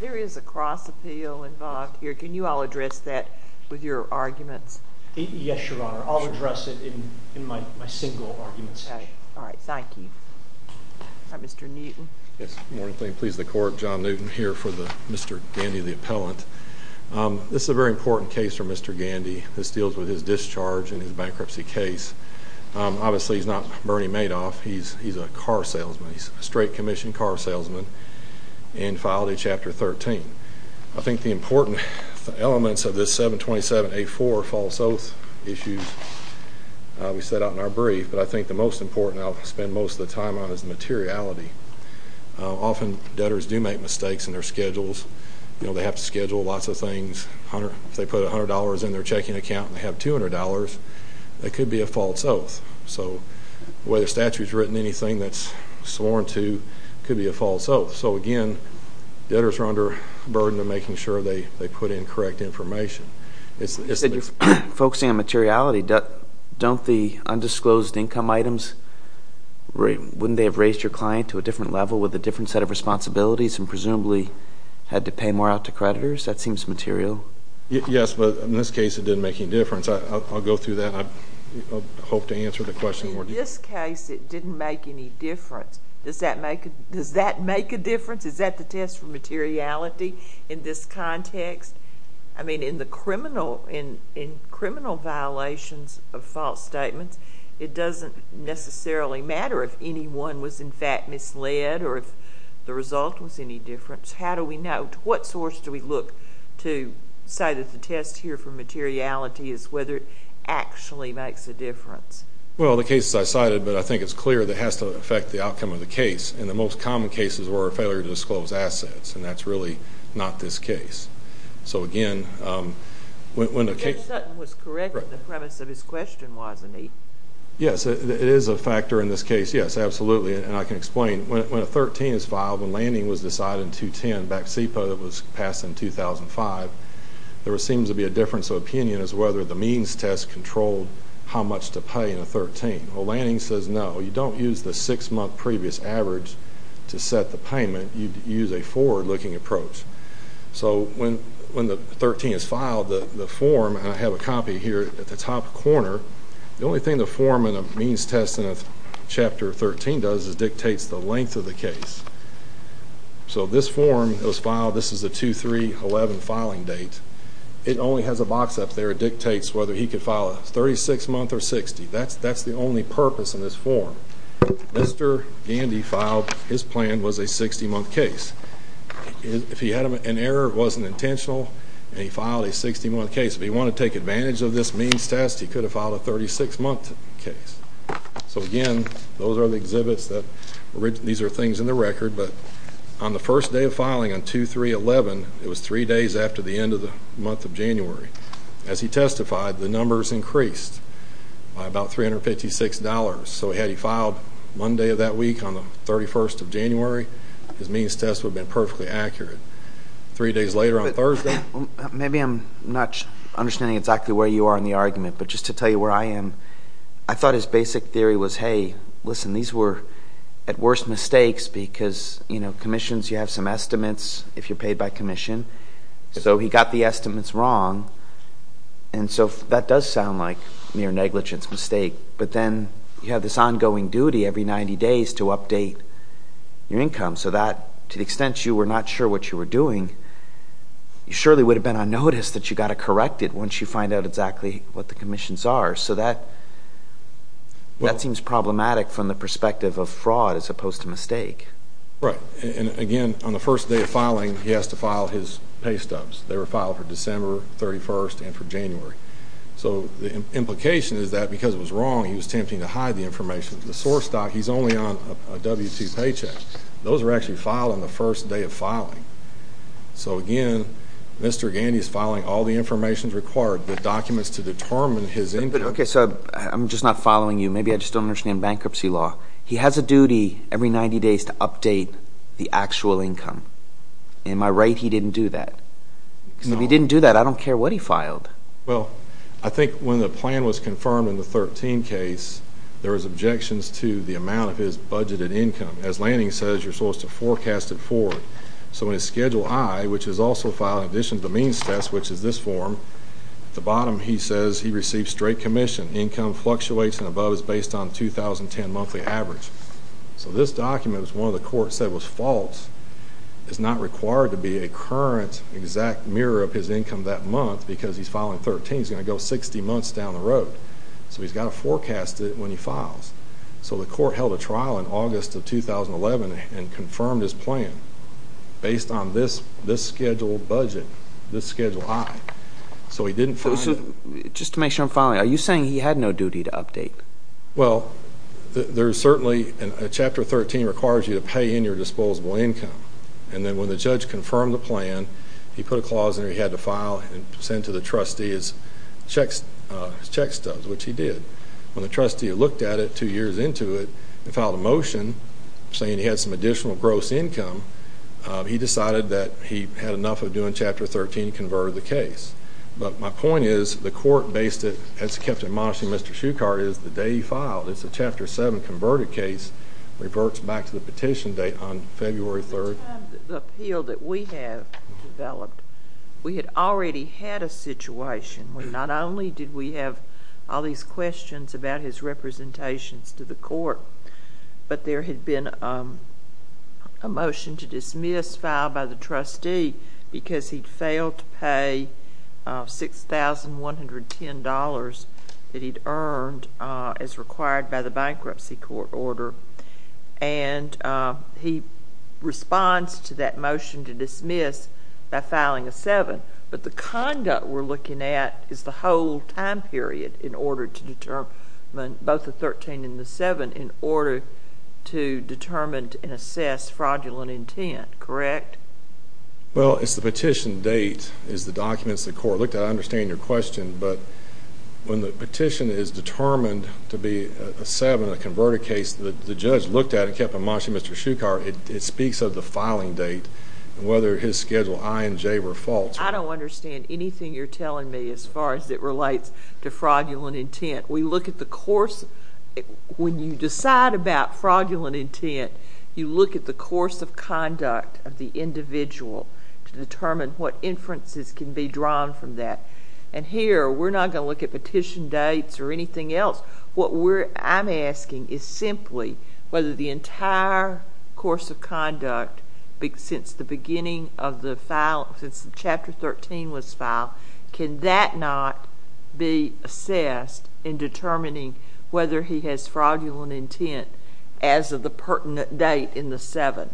There is a cross appeal involved here. Can you all address that with your arguments? Yes, Your Honor. I'll address it in my single arguments. All right. Thank you. Mr. Newton. Yes. Good morning, please. The court John Newton here for the Mr. Gandy, the appellant. This is a very important case for Mr. Gandy. This deals with his discharge and his bankruptcy case. Obviously, he's not Bernie Madoff. He's he's a car salesman. He's a straight commission car salesman and filed a chapter 13. I think the important elements of this 727 a four false oath issues we set out in our brief. But I think the most important I'll spend most of the time on is materiality. Often debtors do make mistakes in their schedules. You know, they have to schedule lots of things. They put $100 in their checking account and have $200. That could be a false oath. So whether statutes written anything that's sworn to could be a false oath. So again, debtors are under burden to making sure they put in correct information. It's that you're focusing on materiality. Don't the undisclosed income items, right? Wouldn't they have raised your client to a different level with a different set of responsibilities and presumably had to pay more out to creditors? That seems material. Yes, but in this case, it didn't make any difference. I'll go through that. I hope to answer the question. In this case, it didn't make any difference. Does that make a difference? Is that the test for materiality in this context? I mean, in criminal violations of false statements, it doesn't necessarily matter if anyone was, in fact, misled or if the result was any different. How do we know? What source do we look to say that the test here for materiality is whether it actually makes a difference? Well, the cases I cited, but I think it's clear that it has to affect the outcome of the case. And the most common cases were a failure to disclose assets. And that's really not this case. So again, when the case Judge Sutton was correct in the premise of his question, wasn't he? Yes, it is a factor in this case. Yes, absolutely. And I can explain. When a 13 is filed, when Lanning was decided in 2010, back in SEPA that was passed in 2005, there seems to be a difference of opinion as to whether the means test controlled how much to pay in a 13. Well, Lanning says no. You don't use the six-month previous average to set the payment. You use a forward-looking approach. So when the 13 is filed, the form, and I have a copy here at the top corner, the only thing the form in a means test in a Chapter 13 does is dictates the length of the case. So this form that was filed, this is the 2-3-11 filing date, it only has a box up there that dictates whether he could file a 36-month or 60. That's the only purpose in this form. Mr. Gandy filed, his plan was a 60-month case. If he had an error, it wasn't intentional, and he filed a 60-month case. If he wanted to take advantage of this means test, he could have filed a 36-month case. So again, those are the exhibits that, these are things in the record, but on the first day of filing, on 2-3-11, it was three days after the end of the month of January. As he testified, the numbers increased by about $356. So had he filed Monday of that week on the 31st of January, his means test would have been perfectly accurate. Three days later on Thursday. Maybe I'm not understanding exactly where you are in the argument, but just to tell you where I am, I thought his basic theory was, hey, listen, these were at worst mistakes because, you know, commissions, you have some estimates if you're paid by commission. So he got the estimates wrong, and so that does sound like mere negligence, mistake, but then you have this ongoing duty every 90 days to update your income. So that, to the extent you were not sure what you were doing, you surely would have been on notice that you got to correct it once you find out exactly what the commissions are. So that seems problematic from the perspective of fraud as opposed to mistake. Right, and again, on the first day of filing, he has to file his pay stubs. They were filed for December 31st and for January. So the implication is that because it was wrong, he was tempting to hide the information. The source doc, he's only on a W-2 paycheck. Those were actually filed on the first day of filing. So again, Mr. Gandy is filing all the information required, the documents to determine his income. Okay, so I'm just not following you. Maybe I just don't understand bankruptcy law. He has a duty every 90 days to update the actual income. Am I right he didn't do that? Because if he didn't do that, I don't care what he filed. Well, I think when the plan was confirmed in the 13 case, there was objections to the amount of his budgeted income. As Lanning says, you're supposed to forecast it forward. So in his Schedule I, which is also filed in addition to the means test, which is this form, at the bottom he says he received straight commission. Income fluctuates and above is based on the 2010 monthly average. So this document, which one of the courts said was false, is not required to be a current exact mirror of his income that month because he's filing 13. He's going to go 60 months down the road. So he's got to forecast it when he files. So the court held a trial in August of 2011 and confirmed his plan based on this scheduled budget, this Schedule I. So he didn't file it. Just to make sure I'm following, are you saying he had no duty to update? Well, there's certainly a Chapter 13 requires you to pay in your disposable income. And then when the judge confirmed the plan, he put a clause in there he had to file and send to the trustee his check stubs, which he did. When the trustee looked at it two years into it and filed a motion saying he had some additional gross income, he decided that he had enough of doing Chapter 13 and converted the case. But my point is, the court based it, as kept admonishing Mr. Shucart, is the day he filed, it's a Chapter 7 converted case, reverts back to the petition date on February 3rd. By the time the appeal that we have developed, we had already had a situation where not only did we have all these questions about his representations to the court, but there had been a motion to dismiss filed by the trustee because he'd failed to pay $6,110 that he'd earned as required by the bankruptcy court order. And he responds to that motion to dismiss by filing a 7. But the conduct we're looking at is the whole time period in order to determine both the 13 and the 7 in order to determine and assess fraudulent intent, correct? Well, it's the petition date. It's the documents the court looked at. I understand your question, but when the petition is determined to be a 7, a converted case, the judge looked at it, kept admonishing Mr. Shucart. It speaks of the filing date and whether his Schedule I and J were false. I don't understand anything you're telling me as far as it relates to fraudulent intent. We look at the course. When you decide about fraudulent intent, you look at the course of conduct of the individual to determine what inferences can be drawn from that. And here, we're not going to look at petition dates or anything else. What I'm asking is simply whether the entire course of conduct since the chapter 13 was filed, can that not be assessed in determining whether he has fraudulent intent as of the pertinent date in the 7?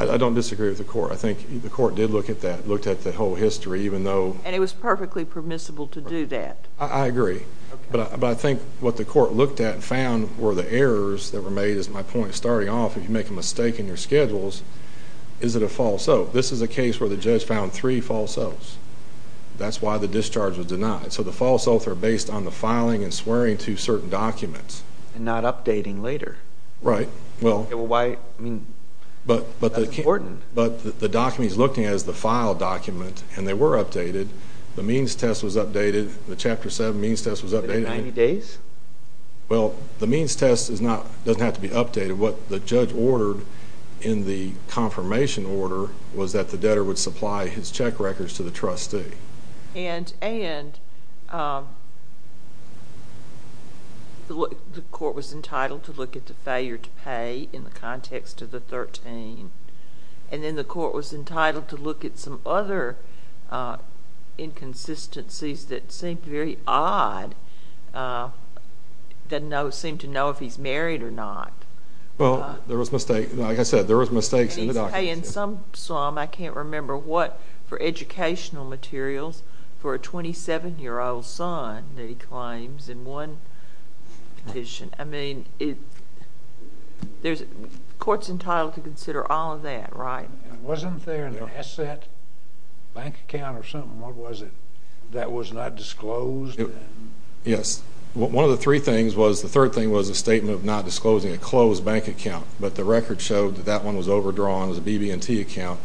I don't disagree with the court. The court did look at that, looked at the whole history. And it was perfectly permissible to do that. I agree, but I think what the court looked at and found were the errors that were made, is my point. Starting off, if you make a mistake in your schedules, is it a false oath? This is a case where the judge found three false oaths. That's why the discharge was denied. So the false oaths are based on the filing and swearing to certain documents. And not updating later. Right. Well, that's important. But the document he's looking at is the file document. And they were updated. The means test was updated. The chapter 7 means test was updated. Within 90 days? Well, the means test doesn't have to be updated. What the judge ordered in the confirmation order was that the debtor would supply his check records to the trustee. And the court was entitled to look at the failure to pay in the context of the 13. And then the court was entitled to look at some other inconsistencies that seemed very odd. Didn't seem to know if he's married or not. Well, there was mistakes. Like I said, there was mistakes in the documents. And he's paying some sum, I can't remember what, for educational materials for a 27-year-old son that he claims in one petition. I mean, the court's entitled to consider all of that, right? Wasn't there an asset, bank account or something, what was it, that was not disclosed? Yes. One of the three things was, the third thing was a statement of not disclosing a closed bank account. But the record showed that that one was overdrawn. It was a BB&T account.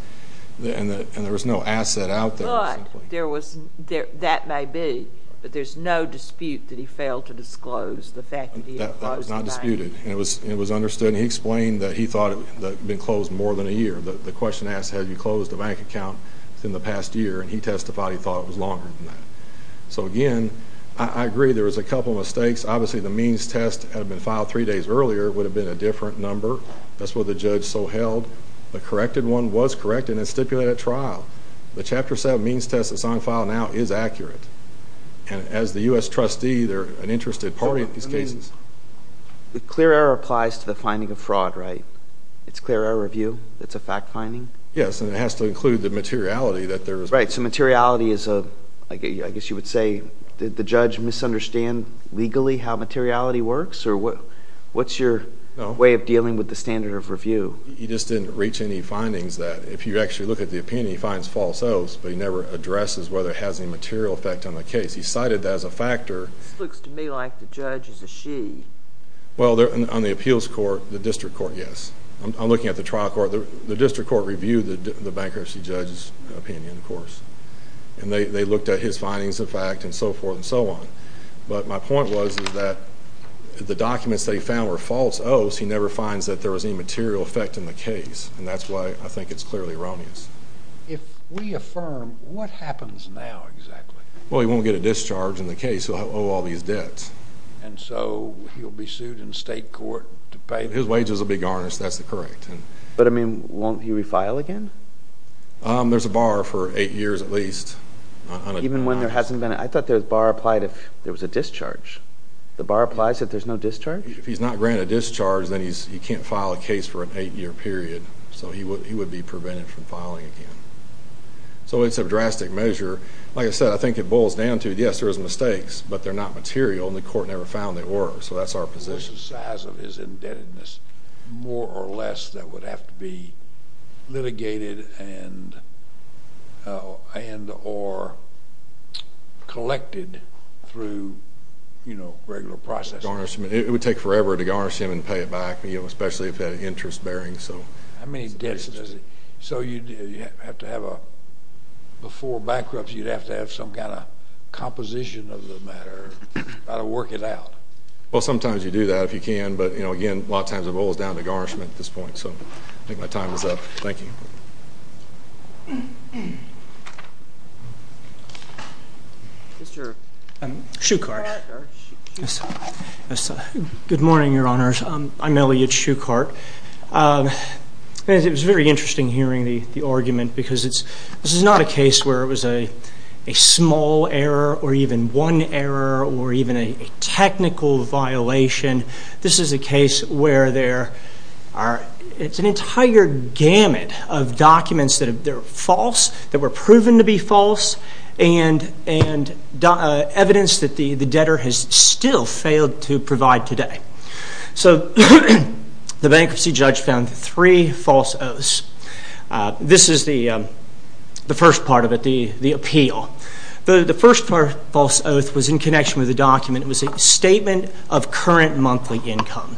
And there was no asset out there. But there was, that may be, but there's no dispute that he failed to disclose the fact that he had closed the bank. That was not disputed. And it was understood. He explained that he thought it had been closed more than a year. The question asked, had you closed a bank account within the past year? And he testified he thought it was longer than that. So again, I agree there was a couple of mistakes. Obviously, the means test had been filed three days earlier. It would have been a different number. That's what the judge so held. The corrected one was correct, and it's stipulated at trial. The Chapter 7 means test that's on file now is accurate. And as the U.S. trustee, they're an interested party in these cases. The clear error applies to the finding of fraud, right? It's clear error review? It's a fact finding? Yes, and it has to include the materiality that there is. Right. So materiality is a, I guess you would say, did the judge misunderstand legally how materiality works? Or what's your way of dealing with the standard of review? He just didn't reach any findings that if you actually look at the opinion, he finds false oaths, but he never addresses whether it has any material effect on the case. He cited that as a factor. This looks to me like the judge is a she. Well, on the appeals court, the district court, yes. I'm looking at the trial court. The district court reviewed the bankruptcy judge's opinion, of course. And they looked at his findings of fact and so forth and so on. But my point was that the documents they found were false oaths. He never finds that there was any material effect in the case. And that's why I think it's clearly erroneous. If we affirm, what happens now exactly? Well, he won't get a discharge in the case. He'll owe all these debts. And so he'll be sued in state court to pay? His wages will be garnished. That's correct. But I mean, won't he refile again? There's a bar for eight years, at least. Even when there hasn't been? I thought the bar applied if there was a discharge. The bar applies if there's no discharge? If he's not granted discharge, then he can't file a case for an eight-year period. So he would be prevented from filing again. So it's a drastic measure. Like I said, I think it boils down to, yes, there is mistakes. But they're not material. And the court never found they were. So that's our position. What's the size of his indebtedness? More or less that would have to be litigated and or collected through regular processing. It would take forever to garnish him and pay it back, especially if it had an interest bearing. How many debts does he owe? So before bankruptcy, you'd have to have some kind of composition of the matter. You've got to work it out. Well, sometimes you do that if you can. But again, a lot of times it boils down to garnishment at this point. So I think my time is up. Thank you. Good morning, Your Honors. I'm Elliot Shuchart. It was very interesting hearing the argument because this is not a case where it was a one error or even a technical violation. This is a case where it's an entire gamut of documents that are false, that were proven to be false, and evidence that the debtor has still failed to provide today. So the bankruptcy judge found three false oaths. This is the first part of it, the appeal. The first false oath was in connection with the document. It was a statement of current monthly income.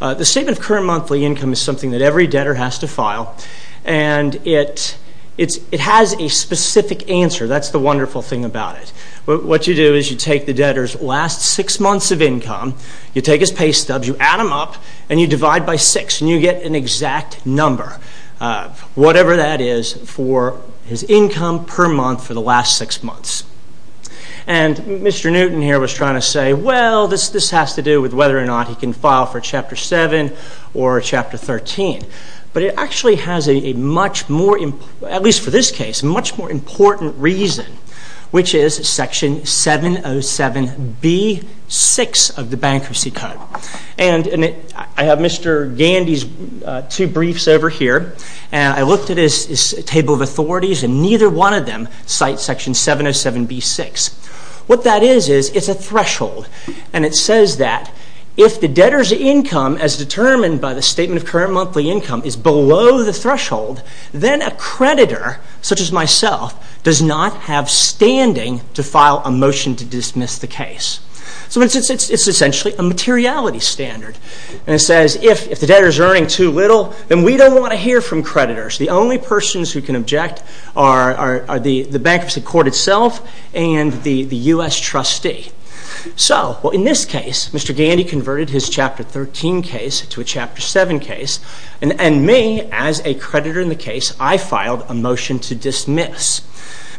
The statement of current monthly income is something that every debtor has to file. And it has a specific answer. That's the wonderful thing about it. What you do is you take the debtor's last six months of income, you take his pay stubs, you add them up, and you divide by six, and you get an exact number, whatever that is, for his income per month for the last six months. And Mr. Newton here was trying to say, well, this has to do with whether or not he can file for Chapter 7 or Chapter 13. But it actually has a much more, at least for this case, much more important reason, which is Section 707B-6 of the Bankruptcy Code. And I have Mr. Gandy's two briefs over here. And I looked at his table of authorities, and neither one of them cite Section 707B-6. What that is, is it's a threshold. And it says that if the debtor's income, as determined by the statement of current monthly income, is below the threshold, then a creditor, such as myself, does not have standing to file a motion to dismiss the case. So it's essentially a materiality standard. And it says, if the debtor's earning too little, then we don't want to hear from creditors. The only persons who can object are the bankruptcy court itself and the U.S. trustee. So, well, in this case, Mr. Gandy converted his Chapter 13 case to a Chapter 7 case. And me, as a creditor in the case, I filed a motion to dismiss.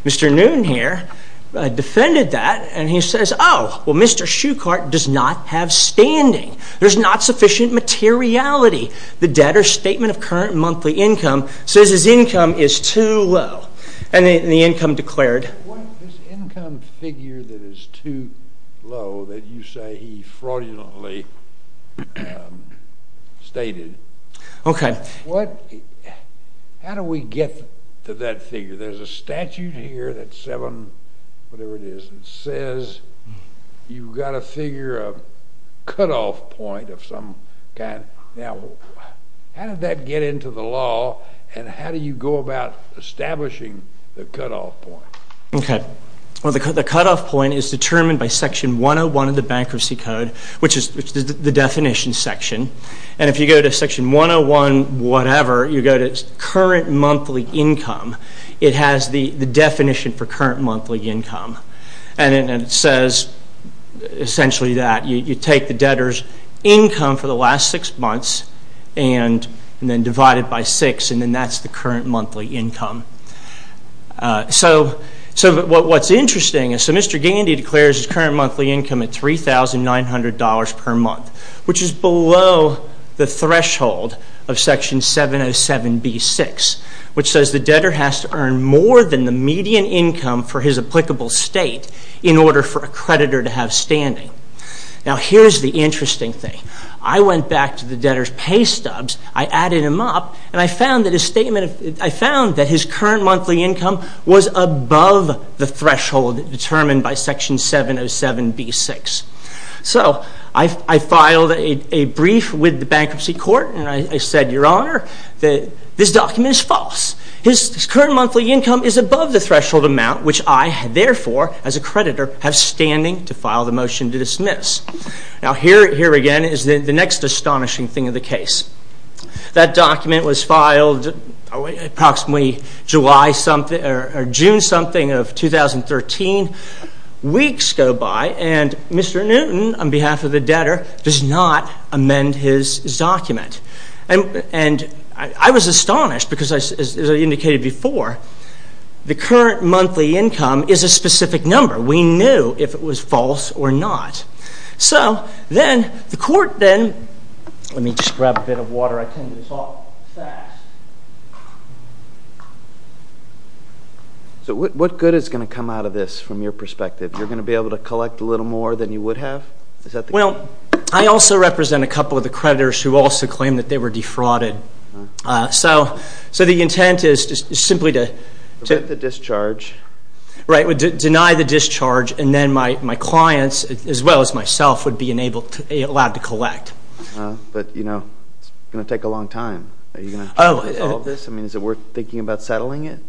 Mr. Newton here defended that. And he says, oh, well, Mr. Shuchart does not have standing. There's not sufficient materiality. The debtor's statement of current monthly income says his income is too low. And the income declared... What this income figure that is too low, that you say he fraudulently stated... OK. How do we get to that figure? There's a statute here that says you've got to figure a cutoff point of some kind. Now, how did that get into the law? And how do you go about establishing the cutoff point? OK. Well, the cutoff point is determined by Section 101 of the Bankruptcy Code, which is the definition section. And if you go to Section 101 whatever, you go to current monthly income, it has the definition for current monthly income. And it says, essentially, that you take the debtor's income for the last six months and then divide it by six. And then that's the current monthly income. So what's interesting is, so Mr. Gandy declares his current monthly income at $3,900 per month, which is below the threshold of Section 707b6, which says the debtor has to earn more than the median income for his applicable state in order for a creditor to have standing. Now, here's the interesting thing. I went back to the debtor's pay stubs, I added him up, and I found that his statement... I found that his current monthly income was above the threshold determined by Section 707b6. So I filed a brief with the bankruptcy court, and I said, Your Honor, that this document is false. His current monthly income is above the threshold amount, which I, therefore, as a creditor, have standing to file the motion to dismiss. Now, here again is the next astonishing thing of the case. That document was filed approximately June something of 2013. Weeks go by, and Mr. Newton, on behalf of the debtor, does not amend his document. And I was astonished because, as I indicated before, the current monthly income is a specific number. We knew if it was false or not. So then the court then... Let me just grab a bit of water. I tend to talk fast. So what good is going to come out of this from your perspective? You're going to be able to collect a little more than you would have? Is that the... Well, I also represent a couple of the creditors who also claim that they were defrauded. So the intent is simply to... To get the discharge. Right, to deny the discharge, and then my clients, as well as myself, would be allowed to collect. But, you know, it's going to take a long time. Are you going to try to resolve this? I mean, is it worth thinking about settling it?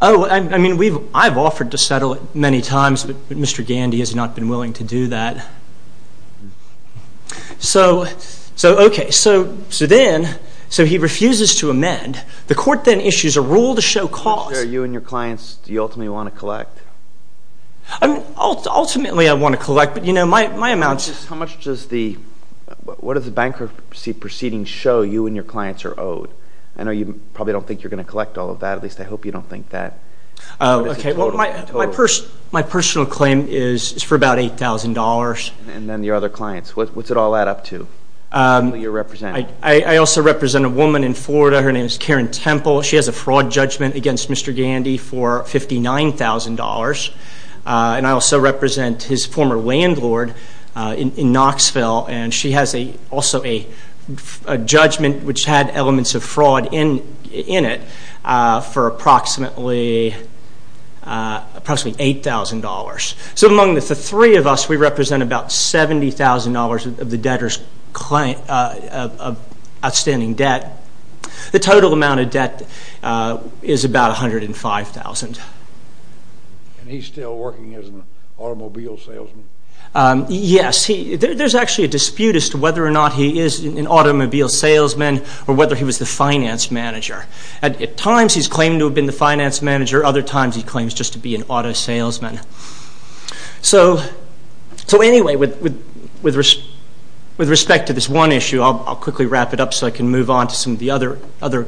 Oh, I mean, we've... I've offered to settle it many times, but Mr. Gandy has not been willing to do that. So, okay, so then... So he refuses to amend. The court then issues a rule to show cause... Mr. Chair, you and your clients, do you ultimately want to collect? I mean, ultimately I want to collect, but, you know, my amounts... How much does the... Show you and your clients are owed? I know you probably don't think you're going to collect all of that. At least I hope you don't think that. Oh, okay. Well, my personal claim is for about $8,000. And then your other clients, what's it all add up to? You're representing... I also represent a woman in Florida. Her name is Karen Temple. She has a fraud judgment against Mr. Gandy for $59,000. And I also represent his former landlord in Knoxville. And she has also a judgment which had elements of fraud in it for approximately $8,000. So among the three of us, we represent about $70,000 of the debtor's outstanding debt. The total amount of debt is about $105,000. And he's still working as an automobile salesman? Yes. There's actually a dispute as to whether or not he is an automobile salesman or whether he was the finance manager. At times, he's claimed to have been the finance manager. Other times, he claims just to be an auto salesman. So anyway, with respect to this one issue, I'll quickly wrap it up so I can move on to some of the other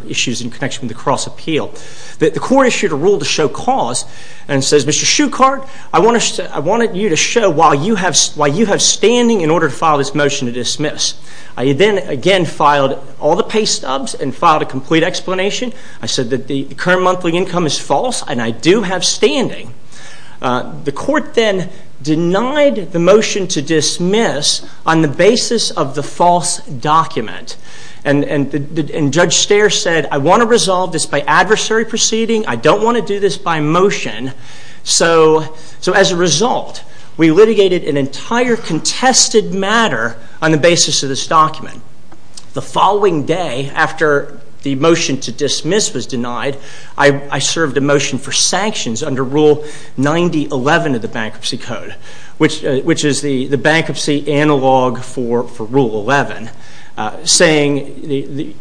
issues in connection with the cross-appeal. The court issued a rule to show cause and says, Mr. Shuchart, I wanted you to show why you have standing in order to file this motion to dismiss. I then again filed all the pay stubs and filed a complete explanation. I said that the current monthly income is false and I do have standing. The court then denied the motion to dismiss on the basis of the false document. And Judge Steyer said, I want to resolve this by adversary proceeding. I don't want to do this by motion. So as a result, we litigated an entire contested matter on the basis of this document. The following day, after the motion to dismiss was denied, I served a motion for sanctions under Rule 9011 of the Bankruptcy Code, which is the bankruptcy analog for Rule 11, saying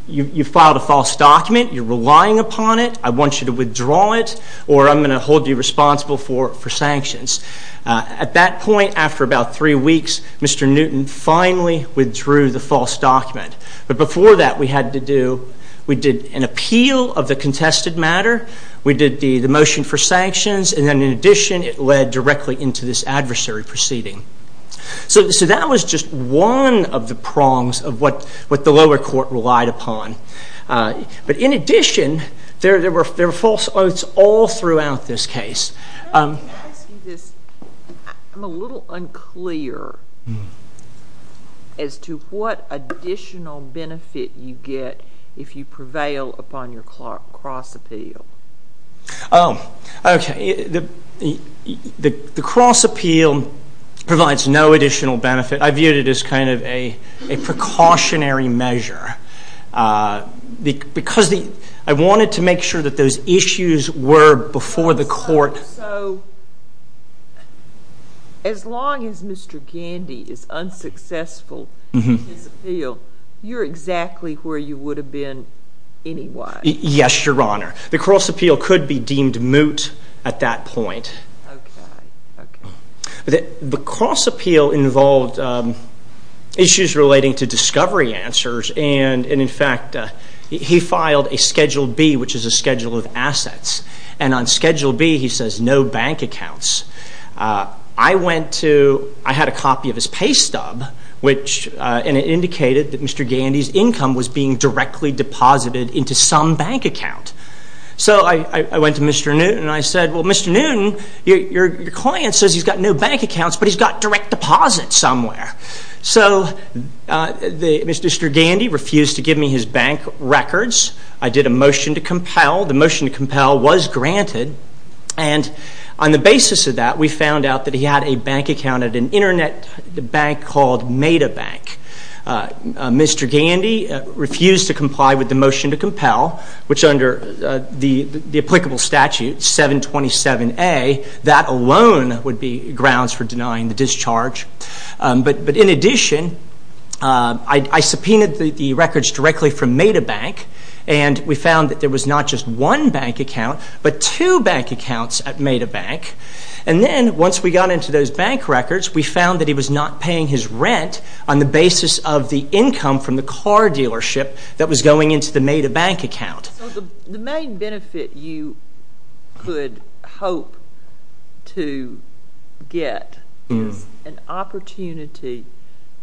you filed a false document, you're relying upon it, I want you to withdraw it, or I'm going to hold you responsible for sanctions. At that point, after about three weeks, Mr. Newton finally withdrew the false document. But before that, we had to do, we did an appeal of the contested matter, we did the motion for sanctions, and then in addition, it led directly into this adversary proceeding. So that was just one of the prongs of what the lower court relied upon. But in addition, there were false oaths all throughout this case. Can I ask you this? I'm a little unclear as to what additional benefit you get if you prevail upon your cross appeal. Oh, OK. The cross appeal provides no additional benefit. I viewed it as kind of a precautionary measure. Because I wanted to make sure that those issues were before the court. So as long as Mr. Gandy is unsuccessful in his appeal, you're exactly where you would have been anyway. Yes, Your Honor. The cross appeal could be deemed moot at that point. OK. The cross appeal involved issues relating to discovery answers. And in fact, he filed a Schedule B, which is a schedule of assets. And on Schedule B, he says no bank accounts. I went to, I had a copy of his pay stub, which indicated that Mr. Gandy's income was being directly deposited into some bank account. So I went to Mr. Newton and I said, well, Mr. Newton, your client says he's got no bank accounts, but he's got direct deposits somewhere. So Mr. Gandy refused to give me his bank records. I did a motion to compel. The motion to compel was granted. And on the basis of that, we found out that he had a bank account at an internet bank called MetaBank. Mr. Gandy refused to comply with the motion to compel, which under the applicable statute, 727A, that alone would be grounds for denying the discharge. But in addition, I subpoenaed the records directly from MetaBank, and we found that there was not just one bank account, but two bank accounts at MetaBank. And then once we got into those bank records, we found that he was not paying his rent on the basis of the income from the car dealership that was going into the MetaBank account. So the main benefit you could hope to get is an opportunity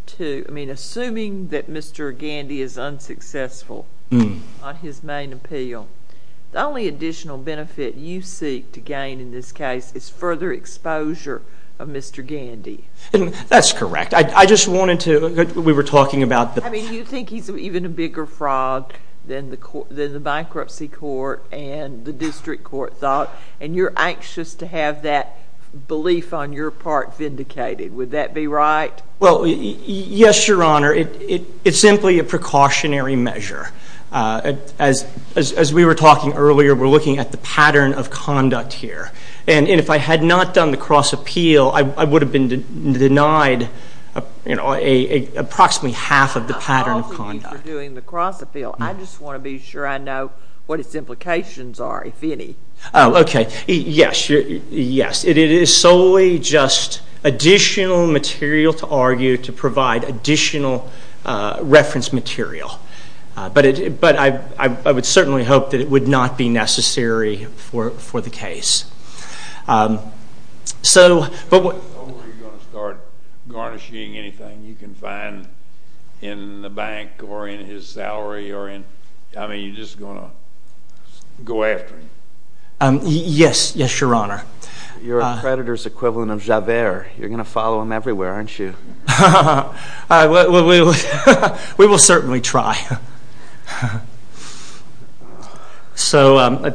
to, I mean, assuming that Mr. Gandy is unsuccessful on his main appeal, the only additional benefit you seek to gain in this case is further exposure of Mr. Gandy. That's correct. I just wanted to, we were talking about the- I mean, you think he's even a bigger frog than the bankruptcy court and the district court thought, and you're anxious to have that belief on your part vindicated. Would that be right? Well, yes, Your Honor. It's simply a precautionary measure. As we were talking earlier, we're looking at the pattern of conduct here. And if I had not done the cross-appeal, I would have been denied, you know, approximately half of the pattern of conduct. I apologize for doing the cross-appeal. I just want to be sure I know what its implications are, if any. Oh, okay. Yes, yes. It is solely just additional material to argue, to provide additional reference material. But I would certainly hope that it would not be necessary for the case. So, but- Are you going to start garnishing anything you can find in the bank or in his salary or in, I mean, you're just going to go after him? Yes, yes, Your Honor. You're a creditor's equivalent of Javert. You're going to follow him everywhere, aren't you? We will certainly try. So,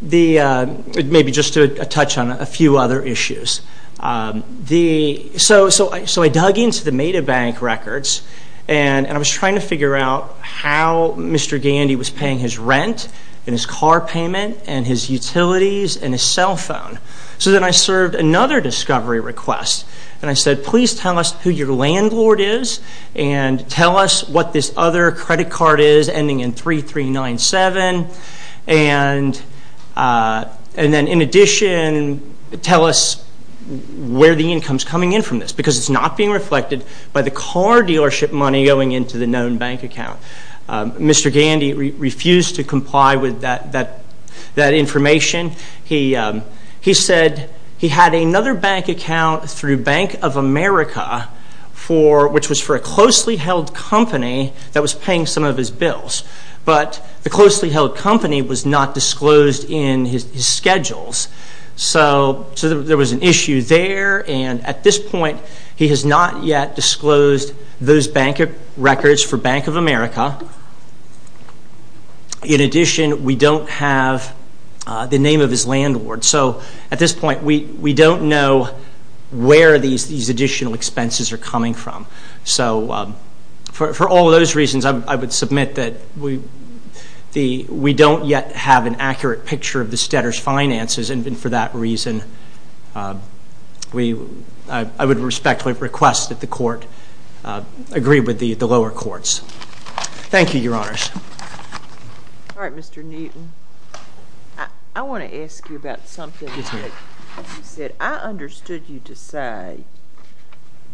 the, maybe just to touch on a few other issues. The, so I dug into the Medibank records and I was trying to figure out how Mr. Gandy was paying his rent and his car payment and his utilities and his cell phone. So then I served another discovery request and I said, please tell us who your landlord is and tell us what this other credit card is ending in 3397. And then in addition, tell us where the income is coming in from this because it's not being reflected by the car dealership money going into the known bank account. Mr. Gandy refused to comply with that information. He said he had another bank account through Bank of America for, which was for a closely held company that was paying some of his bills. But the closely held company was not disclosed in his schedules. So, there was an issue there and at this point he has not yet disclosed those bank records for Bank of America. In addition, we don't have the name of his landlord. So, at this point, we don't know where these additional expenses are coming from. So, for all of those reasons, I would submit that we don't yet have an accurate picture of the Stedders finances and for that reason, I would respectfully request that the court agree with the lower courts. Thank you, Your Honors. All right, Mr. Newton. I want to ask you about something that you said. I understood you to say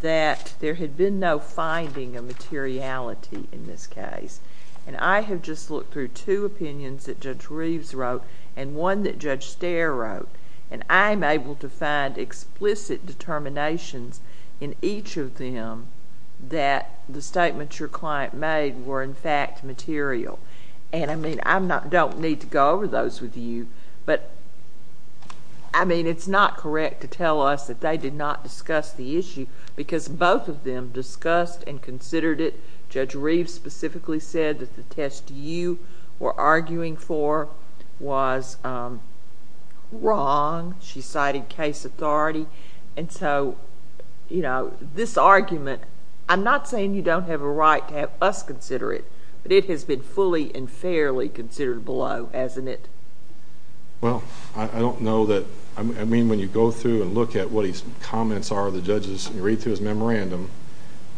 that there had been no finding of materiality in this case and I have just looked through two opinions that Judge Reeves wrote and one that Judge Stair wrote and I am able to find explicit determinations in each of them that the statement your client made were in fact material and I mean, I don't need to go over those with you, but I mean, it's not correct to tell us that they did not discuss the issue because both of them discussed and considered it. Judge Reeves specifically said that the test you were arguing for was wrong. She cited case authority and so, you know, this argument, I'm not saying you don't have a right to have us consider it, but it has been fully and fairly considered below, hasn't it? Well, I don't know that, I mean, when you go through and look at what his comments are, the judges, you read through his memorandum,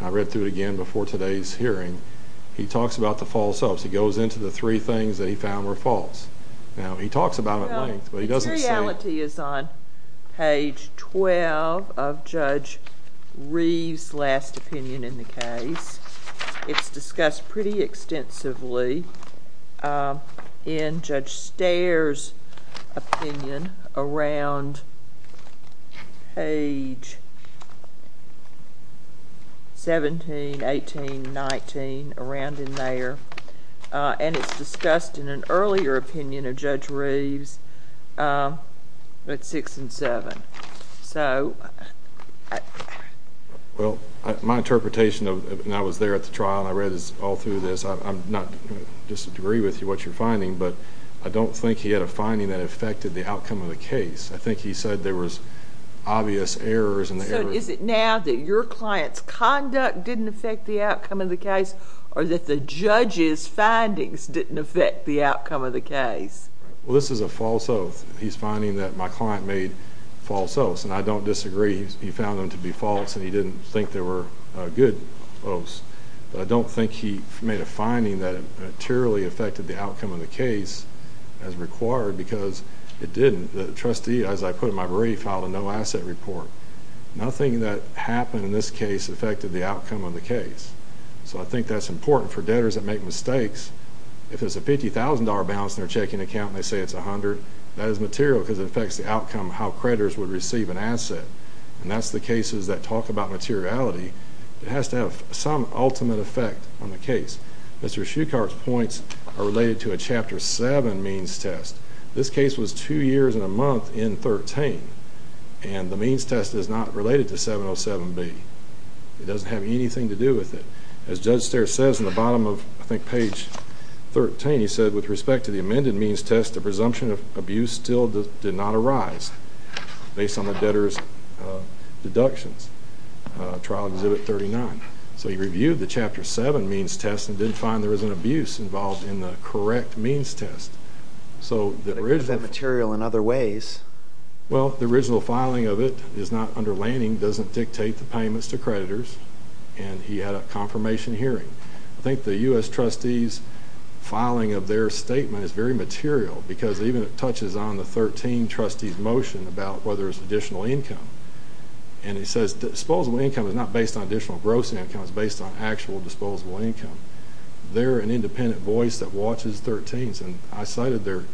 I read through it again before today's hearing, he talks about the false hopes. He goes into the three things that he found were false. Now, he talks about it at length, but he doesn't say. The finality is on page 12 of Judge Reeves' last opinion in the case. It's discussed pretty extensively in Judge Steyer's opinion around page 17, 18, 19, around in there and it's discussed in an earlier opinion of Judge Reeves at six and seven, so. Well, my interpretation of, when I was there at the trial and I read all through this, I'm not going to disagree with you, what you're finding, but I don't think he had a finding that affected the outcome of the case. I think he said there was obvious errors. So, is it now that your client's conduct didn't affect the outcome of the case or that the judge's findings didn't affect the outcome of the case? Well, this is a false oath. He's finding that my client made false oaths and I don't disagree. He found them to be false and he didn't think they were good oaths, but I don't think he made a finding that materially affected the outcome of the case as required because it didn't. The trustee, as I put in my brief, filed a no-asset report. Nothing that happened in this case affected the outcome of the case, so I think that's important for debtors that make mistakes. If it's a $50,000 balance in their checking account and they say it's $100,000, that is material because it affects the outcome of how creditors would receive an asset. And that's the cases that talk about materiality. It has to have some ultimate effect on the case. Mr. Shuchart's points are related to a Chapter 7 means test. This case was two years and a month in 13, and the means test is not related to 707B. It doesn't have anything to do with it. As Judge Starr says in the bottom of, I think, page 13, he said, of abuse still did not arise based on the debtor's deductions. Trial Exhibit 39. So he reviewed the Chapter 7 means test and didn't find there was an abuse involved in the correct means test. But it is material in other ways. Well, the original filing of it is not under Lanning, doesn't dictate the payments to creditors, and he had a confirmation hearing. I think the U.S. trustee's filing of their statement is very material because even it touches on the 13 trustee's motion about whether it's additional income. And it says disposable income is not based on additional gross income, it's based on actual disposable income. They're an independent voice that watches 13s, and I cited their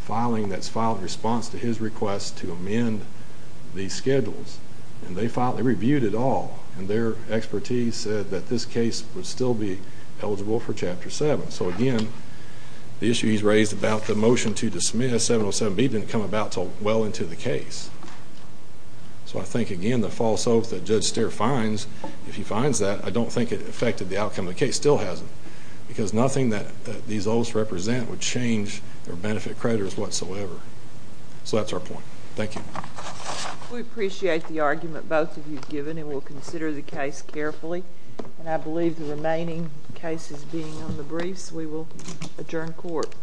filing that's filed in response to his request to amend these schedules. And they filed, they reviewed it all, and their expertise said that this case would still be eligible for Chapter 7. So, again, the issue he's raised about the motion to dismiss 707B didn't come about until well into the case. So I think, again, the false oath that Judge Stier finds, if he finds that, I don't think it affected the outcome of the case. Still hasn't. Because nothing that these oaths represent would change their benefit creditors whatsoever. So that's our point. Thank you. We appreciate the argument both of you have given, and we'll consider the case carefully. And I believe the remaining cases being on the briefs, we will adjourn court.